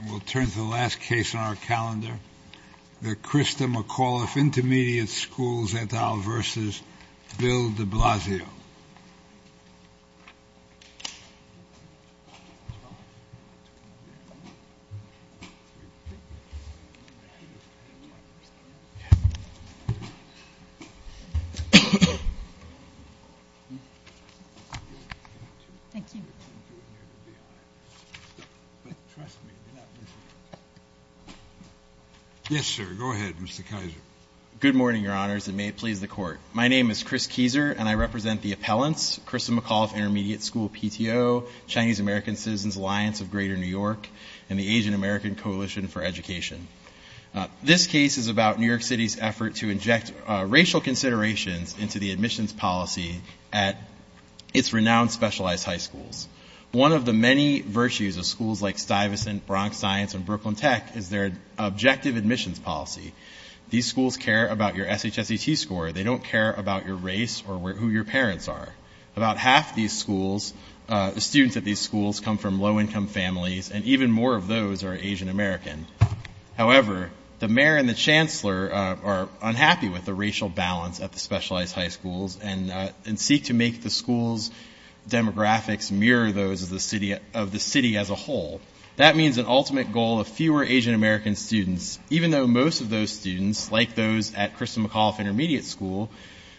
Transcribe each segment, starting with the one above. And we'll turn to the last case on our calendar, the Christa McAuliffe Intermediate School PTO, Chinese American Citizens Alliance of Greater New York, and the Asian American Coalition for Education. This case is about New York City's effort to inject racial considerations into the admissions policy at its renowned specialized high schools. One of the many virtues of schools like Stuyvesant, Bronx Science, and Brooklyn Tech is their objective admissions policy. These schools care about your SHSET score. They don't care about your race or who your parents are. About half the students at these schools come from low income families, and even more of those are Asian American. However, the mayor and the chancellor are unhappy with the racial balance at the specialized high schools and seek to make the school's demographics mirror those of the city as a whole. That means an ultimate goal of fewer Asian American students, even though most of those students, like those at Christa McAuliffe Intermediate School,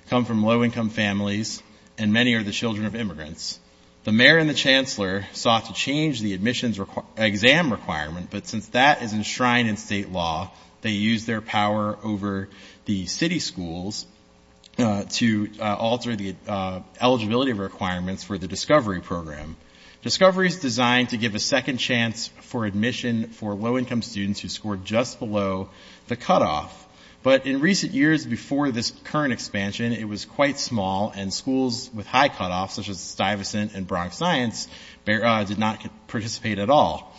come from low income families and many are the children of immigrants. The mayor and the chancellor sought to change the admissions exam requirement, but since that is enshrined in state law, they use their power over the city schools to alter the eligibility requirements for the Discovery Program. Discovery is designed to give a second chance for admission for low income students who scored just below the cutoff, but in recent years before this current expansion, it was quite small and schools with high cutoffs, such as Stuyvesant and Bronx Science, did not participate at all.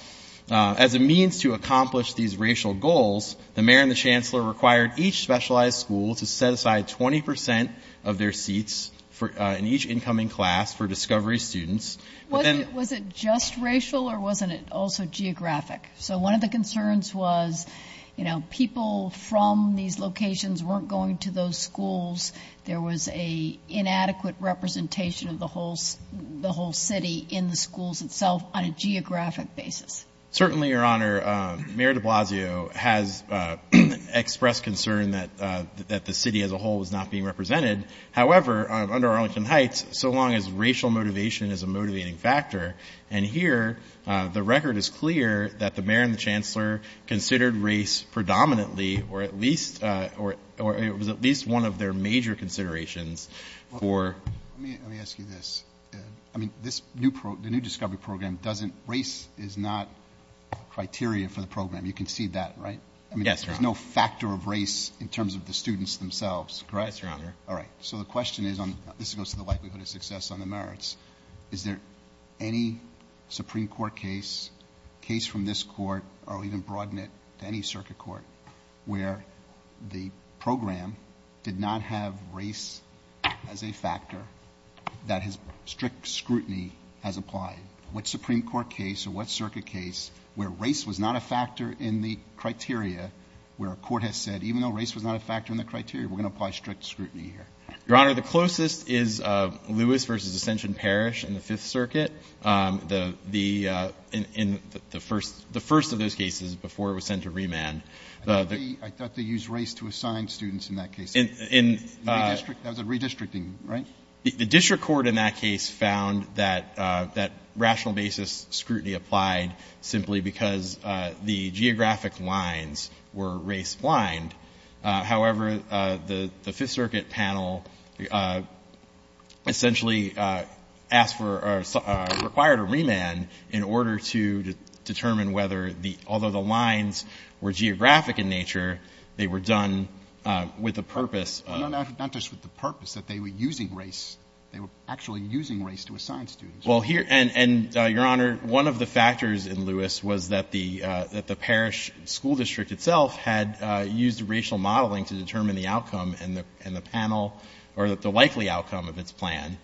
As a means to accomplish these racial goals, the mayor and the chancellor required each specialized school to set aside 20% of their seats in each incoming class for Discovery students. Was it just racial or wasn't it also geographic? So one of the concerns was, you know, people from these locations weren't going to those schools. There was an inadequate representation of the whole city in the schools itself on a geographic basis. Certainly, Your Honor, Mayor de Blasio has expressed concern that the city as a whole was not being represented. However, under Arlington Heights, so long as racial motivation is a motivating factor, and here the record is clear that the mayor and the chancellor considered race predominantly or at least or it was at least one of their major considerations for. Let me ask you this. I mean, this new program, the new Discovery Program doesn't race is not criteria for the program. You can see that, right? Yes, Your Honor. There's no factor of race in terms of the students themselves, correct? Yes, Your Honor. All right. So the question is on this goes to the likelihood of success on the merits. Is there any Supreme Court case, case from this court, or even broaden it to any circuit court, where the program did not have race as a factor that has strict scrutiny has applied? What Supreme Court case or what circuit case where race was not a factor in the criteria where a court has said, even though race was not a factor in the criteria, we're going to apply strict scrutiny here? Your Honor, the closest is Lewis v. Ascension Parish in the Fifth Circuit, the first of those cases before it was sent to remand. I thought they used race to assign students in that case. That was a redistricting, right? The district court in that case found that rational basis scrutiny applied simply because the geographic lines were race blind. However, the Fifth Circuit panel essentially asked for or required a remand in order to determine whether the — although the lines were geographic in nature, they were done with the purpose of — No, not just with the purpose, that they were using race. They were actually using race to assign students. Well, here — and, Your Honor, one of the factors in Lewis was that the Parish school district itself had used racial modeling to determine the outcome and the panel or the likely outcome of its plan.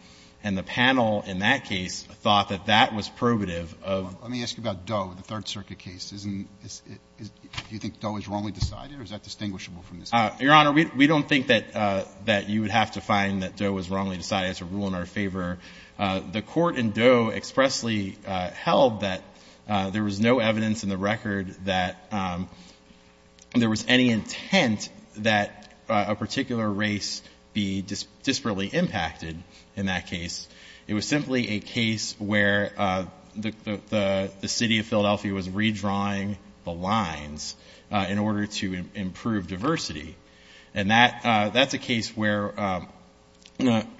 And the panel in that case thought that that was probative of — Let me ask you about Doe, the Third Circuit case. Isn't — do you think Doe is wrongly decided, or is that distinguishable from this case? Your Honor, we don't think that you would have to find that Doe was wrongly decided. That's a rule in our favor. The court in Doe expressly held that there was no evidence in the record that there was any intent that a particular race be disparately impacted in that case. It was simply a case where the city of Philadelphia was redrawing the lines in order to improve diversity. And that's a case where without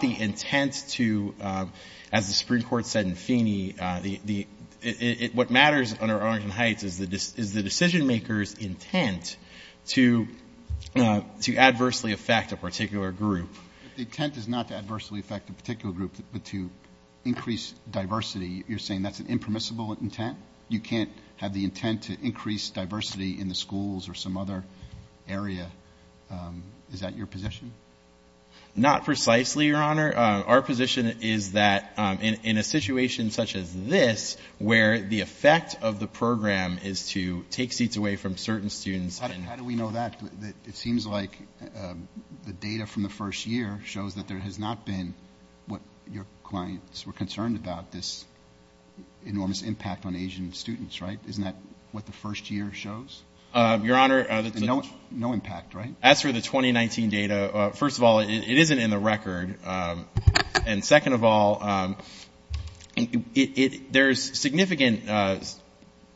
the intent to, as the Supreme Court said in Feeney, what matters under Arlington Heights is the decision-maker's intent to adversely affect a particular group. But the intent is not to adversely affect a particular group, but to increase diversity. You're saying that's an impermissible intent? You can't have the intent to increase diversity in the schools or some other area? Is that your position? Not precisely, Your Honor. Our position is that in a situation such as this, where the effect of the program is to take seats away from certain students and — How do we know that? It seems like the data from the first year shows that there has not been what your clients were concerned about, this enormous impact on Asian students, right? Isn't that what the first year shows? Your Honor — No impact, right? As for the 2019 data, first of all, it isn't in the record. And second of all, there's significant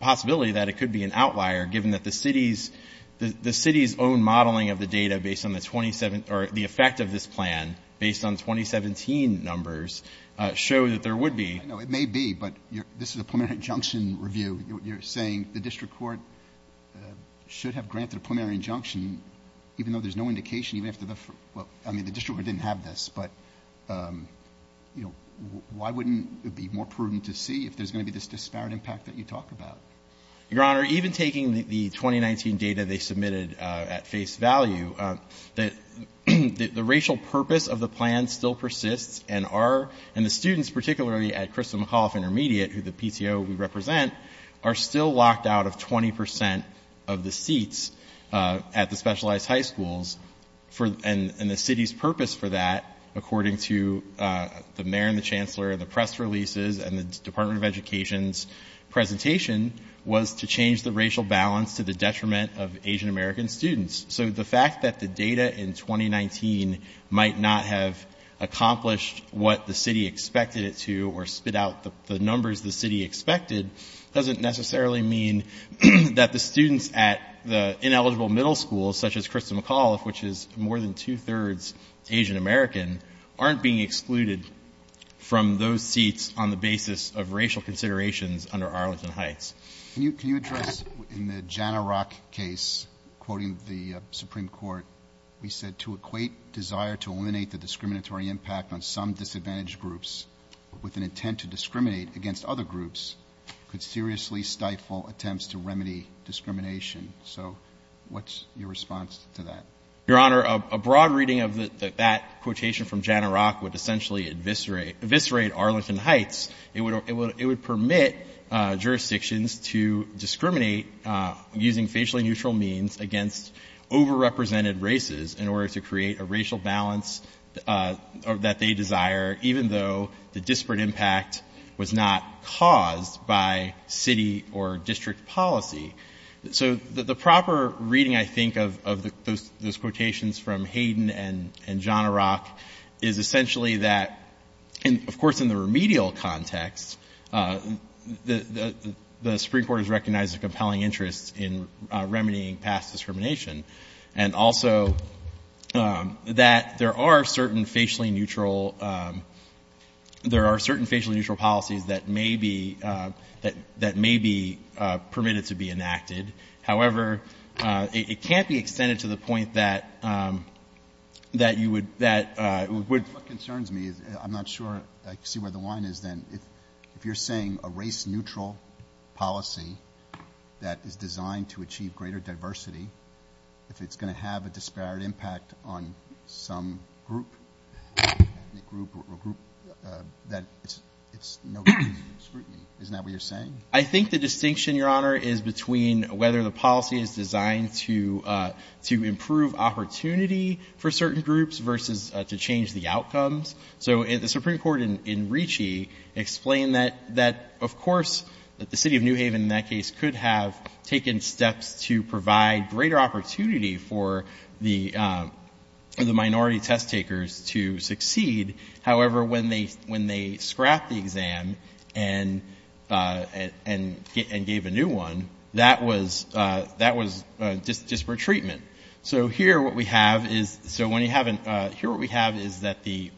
possibility that it could be an outlier, given that the city's own modeling of the data based on the effect of this plan, based on 2017 numbers, show that there would be — I know it may be, but this is a preliminary injunction review. You're saying the district court should have granted a preliminary injunction, even though there's no indication even after the — well, I mean, the district court didn't have this. But, you know, why wouldn't it be more prudent to see if there's going to be this disparate impact that you talk about? Your Honor, even taking the 2019 data they submitted at face value, the racial purpose of the plan still persists, and our — and the students, particularly at Crystal McAuliffe Intermediate, who the PTO we represent, are still locked out of 20 percent of the seats at the specialized high schools. And the city's purpose for that, according to the mayor and the chancellor and the press releases and the Department of Education's presentation, was to change the racial balance to the detriment of Asian American students. So the fact that the data in 2019 might not have accomplished what the city expected it to or spit out the numbers the city expected doesn't necessarily mean that the students at the ineligible middle schools, such as Crystal McAuliffe, which is more than two-thirds Asian American, aren't being excluded from those seats on the basis of racial considerations under Arlington Heights. Can you address — in the Jana Rock case, quoting the Supreme Court, we said to equate desire to eliminate the discriminatory impact on some disadvantaged groups with an intent to discriminate against other groups could seriously stifle attempts to remedy discrimination. So what's your response to that? Your Honor, a broad reading of that quotation from Jana Rock would essentially eviscerate Arlington Heights. It would permit jurisdictions to discriminate using facially neutral means against overrepresented races in order to create a racial balance that they desire, even though the disparate impact was not caused by city or district policy. So the proper reading, I think, of those quotations from Hayden and Jana Rock is essentially that — the Supreme Court has recognized a compelling interest in remedying past discrimination and also that there are certain facially neutral — there are certain facially neutral policies that may be — that may be permitted to be enacted. However, it can't be extended to the point that — that you would — that — What concerns me is I'm not sure I see where the line is then. If you're saying a race-neutral policy that is designed to achieve greater diversity, if it's going to have a disparate impact on some group, ethnic group or group, that it's no good scrutiny. Isn't that what you're saying? I think the distinction, Your Honor, is between whether the policy is designed to improve opportunity for certain groups versus to change the outcomes. So the Supreme Court in Ricci explained that, of course, the city of New Haven in that case could have taken steps to provide greater opportunity for the minority test takers to succeed. However, when they scrapped the exam and gave a new one, that was disparate treatment. So here what we have is — so when you have an — here what we have is that the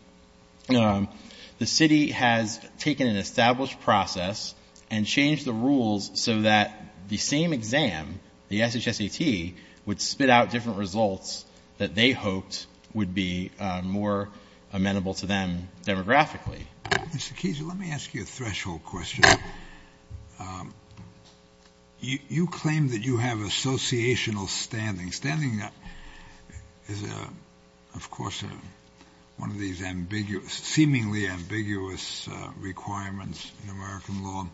city has taken an established process and changed the rules so that the same exam, the SHSAT, would spit out different results that they hoped would be more amenable to them demographically. Mr. Keese, let me ask you a threshold question. You claim that you have associational standing. Standing is, of course, one of these ambiguous — seemingly ambiguous requirements in American law.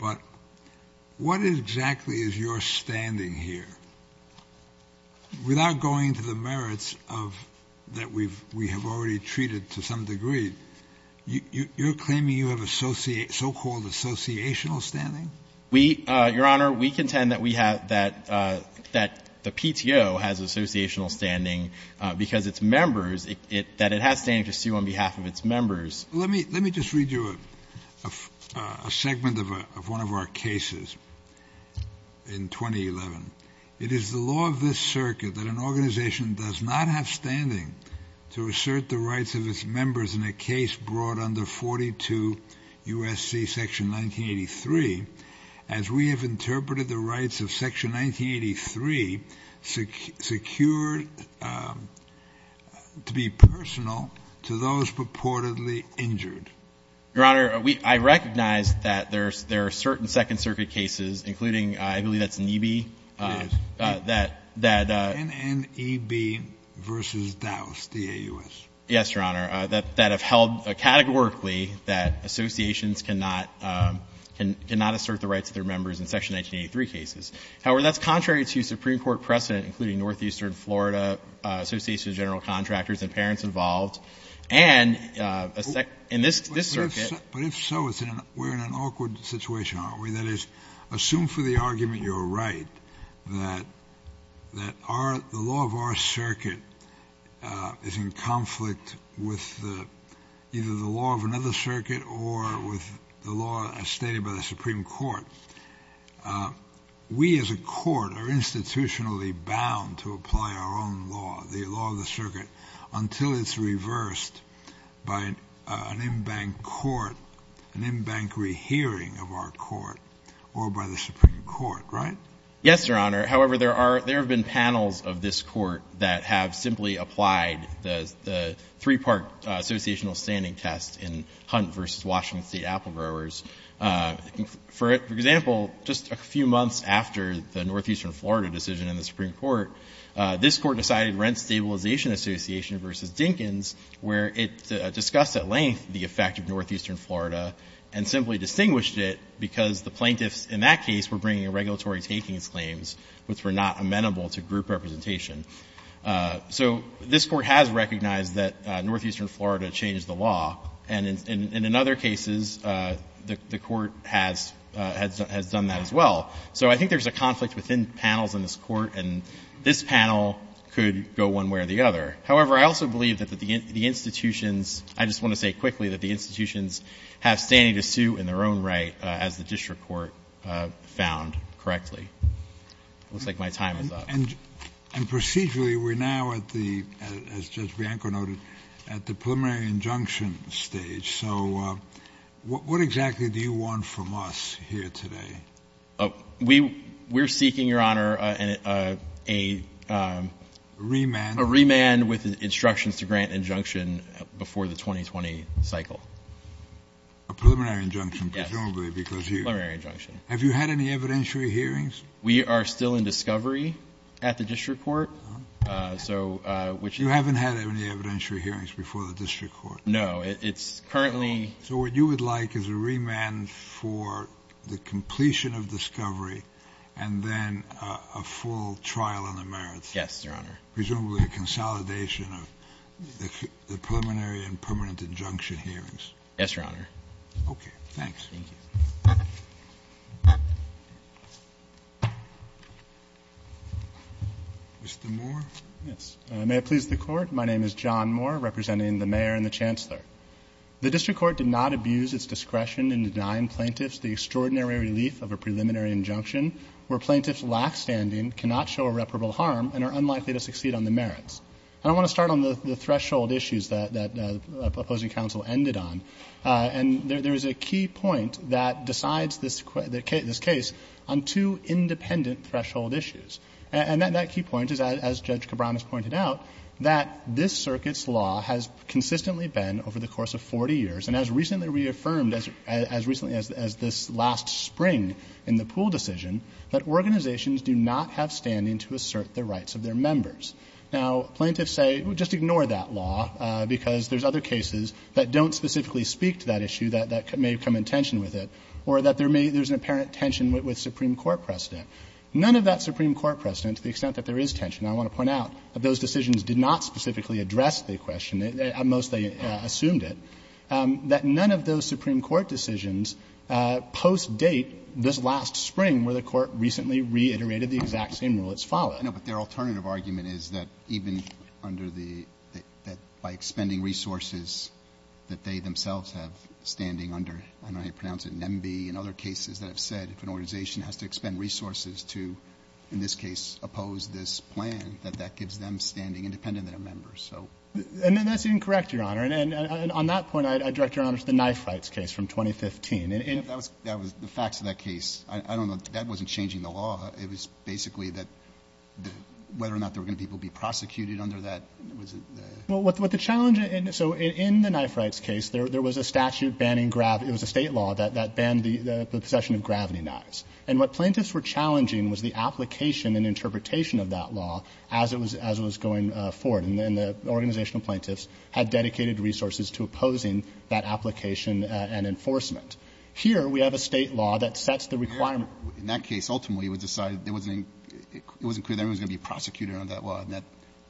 But what exactly is your standing here? Without going to the merits of — that we have already treated to some degree, you're claiming you have so-called associational standing? We — Your Honor, we contend that we have — that the PTO has associational standing because its members — that it has standing to sue on behalf of its members. Let me just read you a segment of one of our cases in 2011. It is the law of this circuit that an organization does not have standing to assert the rights of its members in a case brought under 42 U.S.C. Section 1983 as we have interpreted the rights of Section 1983 secured to be personal to those purportedly injured. Your Honor, we — I recognize that there are certain Second Circuit cases, including — I believe that's NEB — Yes. — that — NNEB v. Dowse, D-A-U-S. Yes, Your Honor, that have held categorically that associations cannot assert the rights of their members in Section 1983 cases. However, that's contrary to Supreme Court precedent, including Northeastern Florida Association of General Contractors and parents involved. And in this circuit — But if so, we're in an awkward situation, aren't we? That is, assume for the argument you're right that our — the law of our circuit is in conflict with either the law of another circuit or with the law as stated by the Supreme Court. We as a court are institutionally bound to apply our own law, the law of the circuit, until it's reversed by an in-bank court, an in-bank rehearing of our court, or by the Supreme Court, right? Yes, Your Honor. However, there are — there have been panels of this court that have simply applied the three-part associational standing test in Hunt v. Washington State Apple Growers. For example, just a few months after the Northeastern Florida decision in the Supreme Court, this Court decided Rent Stabilization Association v. Dinkins, where it discussed at length the effect of Northeastern Florida, and simply distinguished it because the plaintiffs in that case were bringing regulatory takings claims which were not amenable to group representation. So this Court has recognized that Northeastern Florida changed the law, and in other cases, the Court has done that as well. So I think there's a conflict within panels in this Court, and this panel could go one way or the other. However, I also believe that the institutions — I just want to say quickly that the institutions have standing to sue in their own right, as the district court found correctly. It looks like my time is up. And procedurally, we're now at the — as Judge Bianco noted, at the preliminary injunction stage. So what exactly do you want from us here today? We're seeking, Your Honor, a — A remand? A remand with instructions to grant injunction before the 2020 cycle. A preliminary injunction, presumably, because you — Preliminary injunction. Have you had any evidentiary hearings? We are still in discovery at the district court. So — You haven't had any evidentiary hearings before the district court? No. It's currently — So what you would like is a remand for the completion of discovery and then a full trial on the merits. Yes, Your Honor. Presumably a consolidation of the preliminary and permanent injunction hearings. Yes, Your Honor. Okay. Thanks. Thank you. Mr. Moore? Yes. May it please the Court, my name is John Moore, representing the mayor and the chancellor. The district court did not abuse its discretion in denying plaintiffs the extraordinary relief of a preliminary injunction where plaintiffs' lackstanding cannot show irreparable harm and are unlikely to succeed on the merits. And I want to start on the threshold issues that the opposing counsel ended on. And there is a key point that decides this case on two independent threshold issues. And that key point is, as Judge Cabran has pointed out, that this circuit's law has consistently been, over the course of 40 years, and as recently reaffirmed as this last spring in the Poole decision, that organizations do not have standing to assert the rights of their members. Now, plaintiffs say, well, just ignore that law, because there's other cases that don't specifically speak to that issue that may come in tension with it, or that there's an apparent tension with Supreme Court precedent. None of that Supreme Court precedent, to the extent that there is tension, I want to point out, those decisions did not specifically address the question. At most, they assumed it. That none of those Supreme Court decisions post-date this last spring, where the Court recently reiterated the exact same rule that's followed. Roberts. No, but their alternative argument is that even under the — that by expending resources that they themselves have standing under, I don't know how you pronounce it, NMB, and other cases that have said if an organization has to expend resources to, in this case, oppose this plan, that that gives them standing independent of their members. So — And that's incorrect, Your Honor. And on that point, I direct Your Honor to the knife rights case from 2015. That was the facts of that case. I don't know. That wasn't changing the law. It was basically that whether or not there were going to be people prosecuted under that was the — Well, what the challenge — so in the knife rights case, there was a statute banning — it was a State law that banned the possession of gravity knives. And what plaintiffs were challenging was the application and interpretation of that law as it was going forward. And the organizational plaintiffs had dedicated resources to opposing that application and enforcement. Here, we have a State law that sets the requirement. In that case, ultimately, it was decided there wasn't — it wasn't clear that anyone was going to be prosecuted under that law, and that,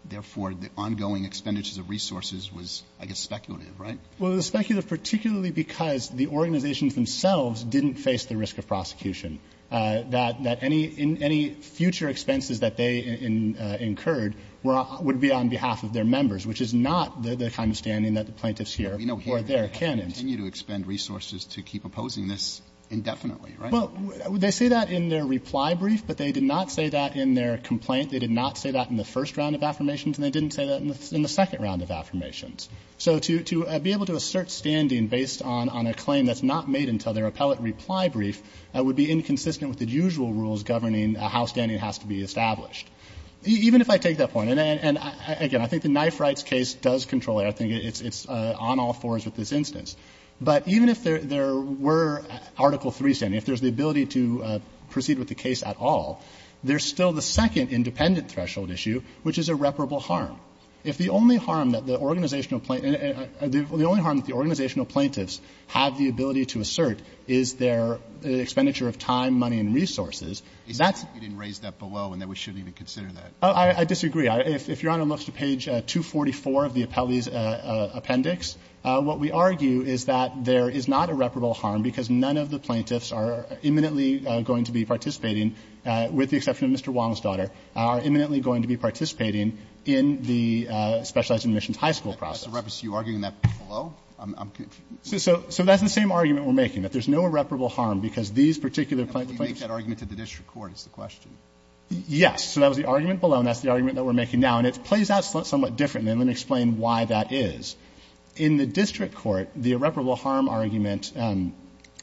therefore, the ongoing expenditures of resources was, I guess, speculative, right? Well, it was speculative particularly because the organizations themselves didn't face the risk of prosecution, that any — any future expenses that they incurred would be on behalf of their members, which is not the kind of standing that the plaintiffs hear or their canons. But we know here they continue to expend resources to keep opposing this indefinitely, right? Well, they say that in their reply brief, but they did not say that in their complaint. They did not say that in the first round of affirmations, and they didn't say that in the second round of affirmations. So to be able to assert standing based on a claim that's not made until their appellate reply brief would be inconsistent with the usual rules governing how standing has to be established. Even if I take that point, and again, I think the Knife Rights case does control it. I think it's on all fours with this instance. But even if there were Article III standing, if there's the ability to proceed with the case at all, there's still the second independent threshold issue, which is irreparable harm. If the only harm that the organizational — the only harm that the organizational plaintiffs have the ability to assert is their expenditure of time, money, and resources, that's — You didn't raise that below and that we shouldn't even consider that. I disagree. If Your Honor looks to page 244 of the appellee's appendix, what we argue is that there is not irreparable harm because none of the plaintiffs are imminently going to be participating, with the exception of Mr. Wong's daughter, are imminently going to be participating in the specialized admissions high school process. Are you arguing that below? So that's the same argument we're making, that there's no irreparable harm because these particular plaintiffs — But you make that argument at the district court is the question. Yes. So that was the argument below, and that's the argument that we're making now. And it plays out somewhat differently, and let me explain why that is. In the district court, the irreparable harm argument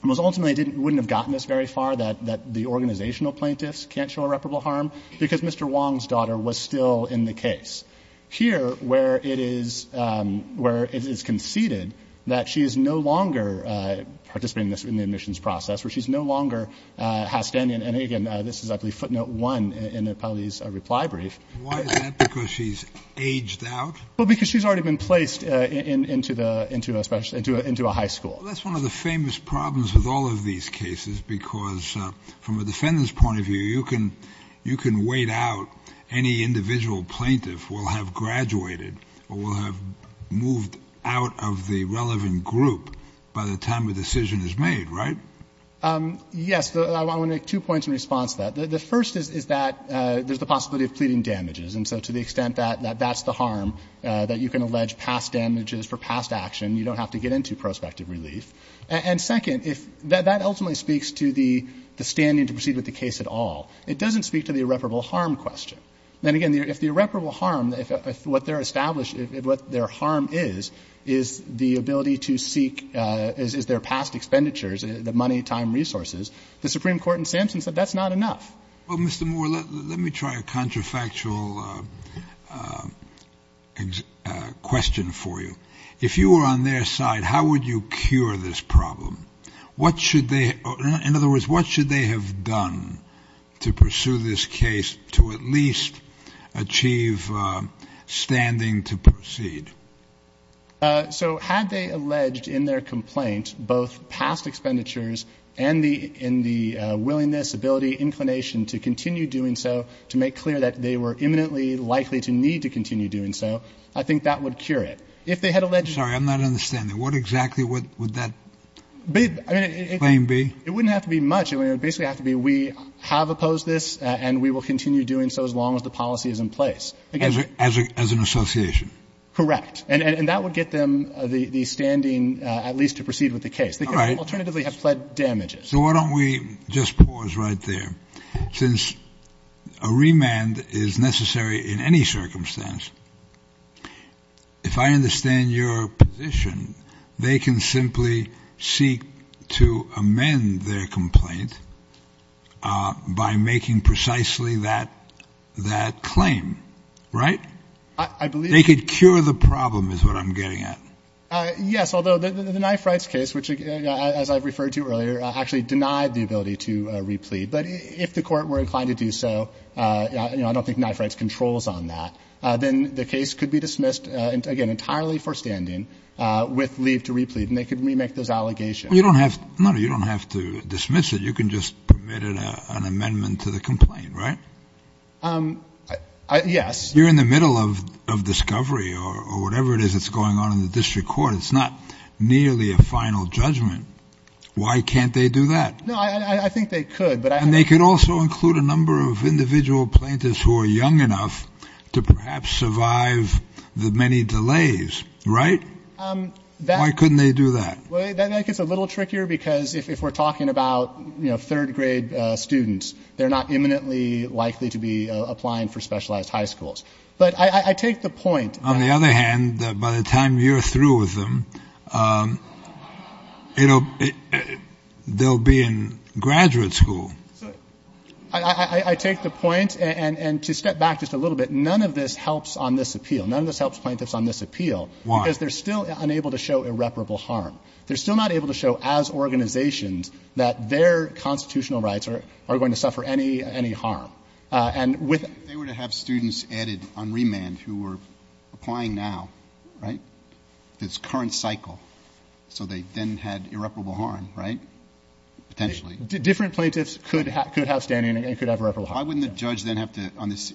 was ultimately didn't — wouldn't have gotten us very far, that the organizational plaintiffs can't show irreparable harm because Mr. Wong's daughter was still in the case. Here, where it is — where it is conceded that she is no longer participating in this — in the admissions process, where she no longer has to end in — and again, this is, I believe, footnote one in Appellee's reply brief. Why is that? Because she's aged out? Well, because she's already been placed into the — into a special — into a high school. Well, that's one of the famous problems with all of these cases, because from a defendant's point of view, you can — you can wait out any individual plaintiff will have graduated or will have moved out of the relevant group by the time a decision is made, right? Yes. I want to make two points in response to that. The first is that there's the possibility of pleading damages. And so to the extent that that's the harm, that you can allege past damages for past action, you don't have to get into prospective relief. And second, if — that ultimately speaks to the standing to proceed with the case at all. It doesn't speak to the irreparable harm question. Then again, if the irreparable harm, if what they're established — what their harm is, is the ability to seek — is their past expenditures, the money, time, resources, the Supreme Court in Sampson said that's not enough. Well, Mr. Moore, let me try a contrafactual question for you. If you were on their side, how would you cure this problem? What should they — in other words, what should they have done to pursue this case to at least achieve standing to proceed? So had they alleged in their complaint both past expenditures and the — in the willingness, ability, inclination to continue doing so, to make clear that they were imminently likely to need to continue doing so, I think that would cure it. If they had alleged — I'm sorry, I'm not understanding. What exactly would that claim be? It wouldn't have to be much. It would basically have to be we have opposed this and we will continue doing so as long as the policy is in place. As an association? Correct. And that would get them the standing at least to proceed with the case. All right. They could alternatively have pled damages. So why don't we just pause right there. Since a remand is necessary in any circumstance, if I understand your position, they can simply seek to amend their complaint by making precisely that claim, right? I believe — They could cure the problem is what I'm getting at. Yes. Although the knife rights case, which, as I've referred to earlier, actually denied the ability to replead. But if the court were inclined to do so, I don't think knife rights controls on that, then the case could be dismissed, again, entirely for standing with leave to replead. And they could remake those allegations. You don't have to dismiss it. You can just permit an amendment to the complaint, right? Yes. You're in the middle of discovery or whatever it is that's going on in the district court. It's not nearly a final judgment. Why can't they do that? No, I think they could. And they could also include a number of individual plaintiffs who are young enough to perhaps survive the many delays, right? Why couldn't they do that? That gets a little trickier because if we're talking about, you know, third grade students, they're not imminently likely to be applying for specialized high schools. But I take the point — On the other hand, by the time you're through with them —— they'll be in graduate school. I take the point. And to step back just a little bit, none of this helps on this appeal. None of this helps plaintiffs on this appeal. Why? Because they're still unable to show irreparable harm. They're still not able to show as organizations that their constitutional rights are going to suffer any harm. And with — If they were to have students added on remand who were applying now, right, this current cycle, so they then had irreparable harm, right, potentially. Different plaintiffs could have standing and could have irreparable harm. Why wouldn't the judge then have to, on this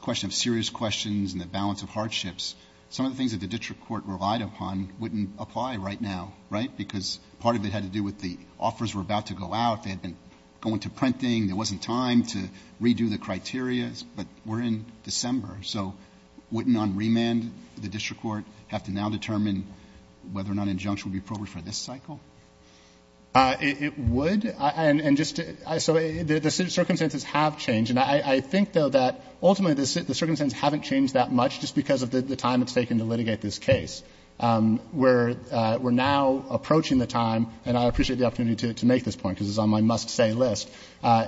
question of serious questions and the balance of hardships, some of the things that the district court relied upon wouldn't apply right now, right? Because part of it had to do with the offers were about to go out. They had been going to printing. There wasn't time to redo the criteria. But we're in December. So wouldn't on remand the district court have to now determine whether or not an injunction would be appropriate for this cycle? It would. And just — so the circumstances have changed. And I think, though, that ultimately the circumstances haven't changed that much just because of the time it's taken to litigate this case. We're now approaching the time, and I appreciate the opportunity to make this point because it's on my must-say list,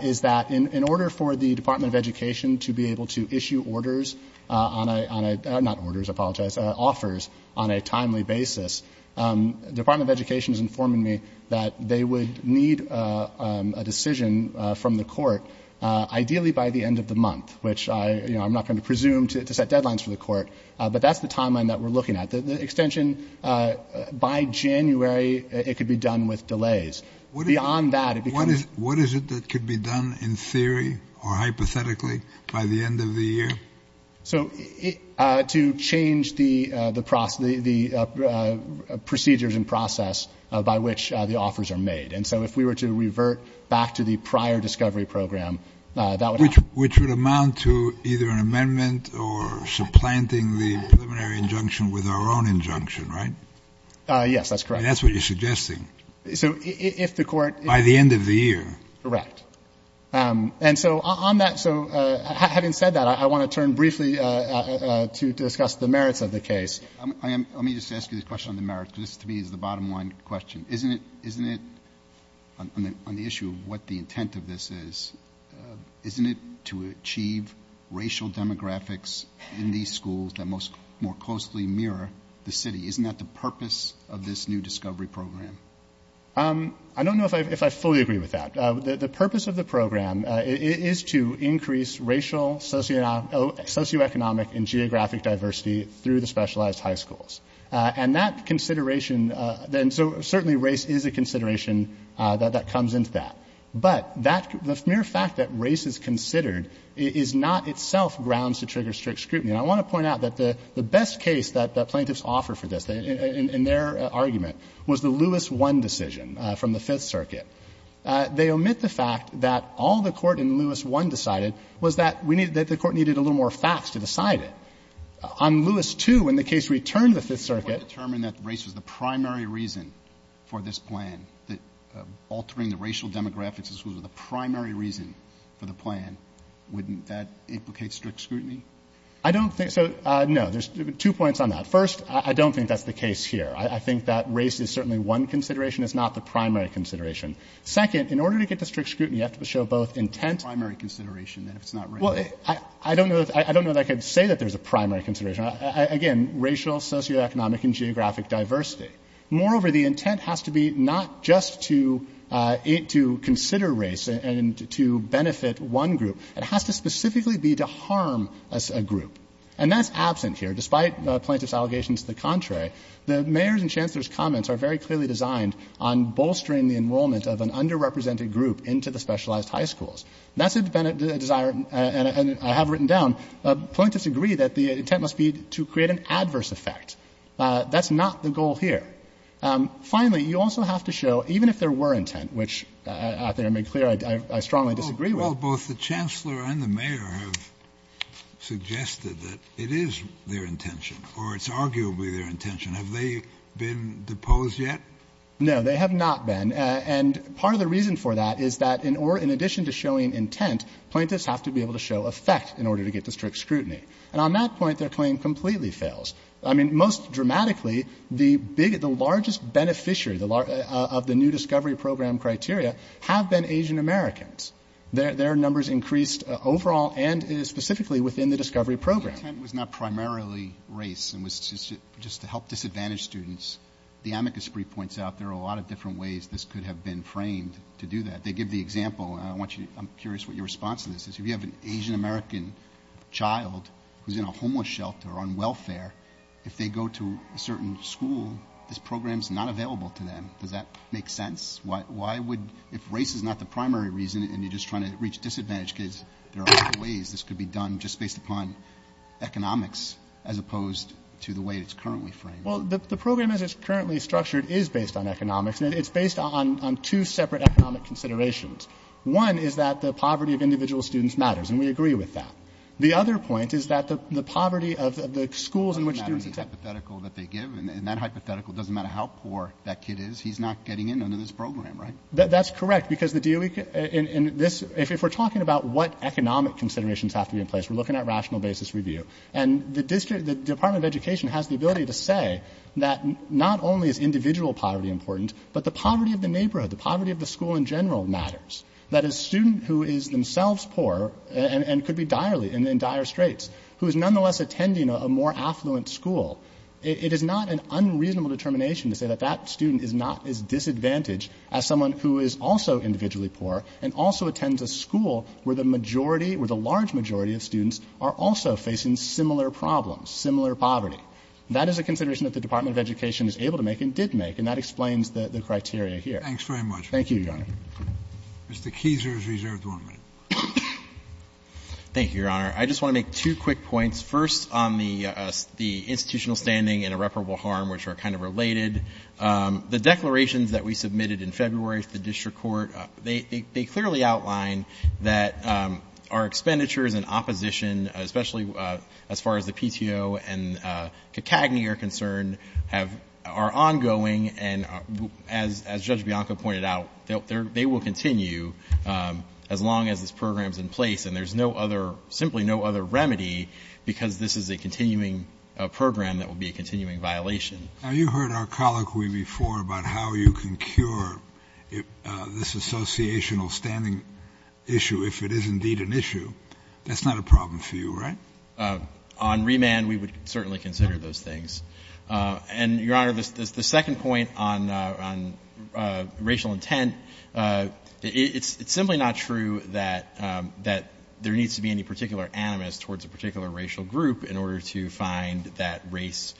is that in order for the Department of Education to be able to issue orders on a — not orders, I apologize — offers on a timely basis, the Department of Education is informing me that they would need a decision from the court, ideally by the end of the month, which I'm not going to presume to set deadlines for the court. But that's the timeline that we're looking at. The extension by January, it could be done with delays. Beyond that, it becomes — What is it that could be done in theory or hypothetically by the end of the year? So to change the procedures and process by which the offers are made. And so if we were to revert back to the prior discovery program, that would happen. Which would amount to either an amendment or supplanting the preliminary injunction with our own injunction, right? Yes, that's correct. And that's what you're suggesting? So if the court — By the end of the year. Correct. And so on that — so having said that, I want to turn briefly to discuss the merits of the case. Let me just ask you this question on the merits because this, to me, is the bottom-line question. Isn't it — isn't it — on the issue of what the intent of this is, isn't it to achieve racial demographics in these schools that most — more closely mirror the city? Isn't that the purpose of this new discovery program? I don't know if I fully agree with that. The purpose of the program is to increase racial, socioeconomic, and geographic diversity through the specialized high schools. And that consideration — and so certainly race is a consideration that comes into that. But that — the mere fact that race is considered is not itself grounds to trigger strict scrutiny. And I want to point out that the best case that plaintiffs offer for this, in their argument, was the Lewis I decision from the Fifth Circuit. They omit the fact that all the court in Lewis I decided was that we needed — that the court needed a little more facts to decide it. On Lewis II, when the case returned to the Fifth Circuit — If you want to determine that race was the primary reason for this plan, that altering the racial demographics in schools was the primary reason for the plan, wouldn't that implicate strict scrutiny? I don't think — so, no. There's two points on that. First, I don't think that's the case here. I think that race is certainly one consideration. It's not the primary consideration. Second, in order to get to strict scrutiny, you have to show both intent — It's the primary consideration, then, if it's not racial. Well, I don't know that I could say that there's a primary consideration. Again, racial, socioeconomic, and geographic diversity. Moreover, the intent has to be not just to consider race and to benefit one group. It has to specifically be to harm a group. And that's absent here. Despite plaintiff's allegations to the contrary, the mayor's and chancellor's comments are very clearly designed on bolstering the enrollment of an underrepresented group into the specialized high schools. That's a desire, and I have written down, plaintiffs agree that the intent must be to create an adverse effect. That's not the goal here. Finally, you also have to show, even if there were intent, which I think I made clear I strongly disagree with — The chancellor and the mayor have suggested that it is their intention, or it's arguably their intention. Have they been deposed yet? No, they have not been. And part of the reason for that is that in addition to showing intent, plaintiffs have to be able to show effect in order to get to strict scrutiny. And on that point, their claim completely fails. I mean, most dramatically, the largest beneficiary of the new discovery program criteria have been Asian Americans. Their numbers increased overall and specifically within the discovery program. The intent was not primarily race. It was just to help disadvantaged students. The amicus brief points out there are a lot of different ways this could have been framed to do that. They give the example, and I'm curious what your response to this is. If you have an Asian American child who's in a homeless shelter on welfare, if they go to a certain school, this program's not available to them. Does that make sense? Why would, if race is not the primary reason and you're just trying to reach disadvantaged kids, there are other ways this could be done just based upon economics as opposed to the way it's currently framed. Well, the program as it's currently structured is based on economics, and it's based on two separate economic considerations. One is that the poverty of individual students matters, and we agree with that. The other point is that the poverty of the schools in which students attend. It doesn't matter the hypothetical that they give, and that hypothetical, it doesn't matter how poor that kid is. He's not getting in under this program, right? That's correct, because the DOE, and this, if we're talking about what economic considerations have to be in place, we're looking at rational basis review. And the district, the Department of Education has the ability to say that not only is individual poverty important, but the poverty of the neighborhood, the poverty of the school in general matters. That a student who is themselves poor and could be direly, in dire straits, who is nonetheless attending a more affluent school, it is not an unreasonable determination to say that that student is not as disadvantaged as someone who is also individually poor and also attends a school where the majority or the large majority of students are also facing similar problems, similar poverty. That is a consideration that the Department of Education is able to make and did make, and that explains the criteria here. Thank you, Your Honor. Mr. Keiser is reserved one minute. Thank you, Your Honor. I just want to make two quick points. First, on the institutional standing and irreparable harm, which are kind of related, the declarations that we submitted in February to the district court, they clearly outline that our expenditures in opposition, especially as far as the PTO and CACAGNY are concerned, are ongoing. And as Judge Bianco pointed out, they will continue as long as this program is in place. And there's no other, simply no other remedy because this is a continuing program that will be a continuing violation. Now, you heard our colloquy before about how you can cure this associational standing issue if it is indeed an issue. That's not a problem for you, right? On remand, we would certainly consider those things. And, Your Honor, the second point on racial intent, it's simply not true that there needs to be any particular animus towards a particular racial group in order to find that race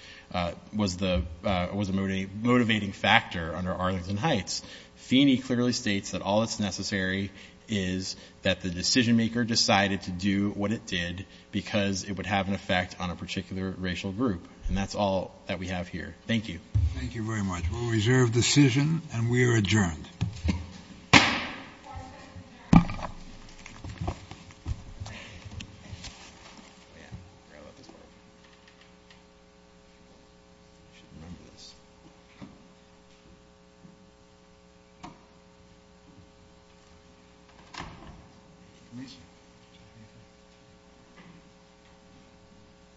was a motivating factor under Arlington Heights. Feeney clearly states that all that's necessary is that the decision maker decided to do what it did because it would have an effect on a particular racial group. And that's all that we have here. Thank you. Thank you very much. We'll reserve decision, and we are adjourned.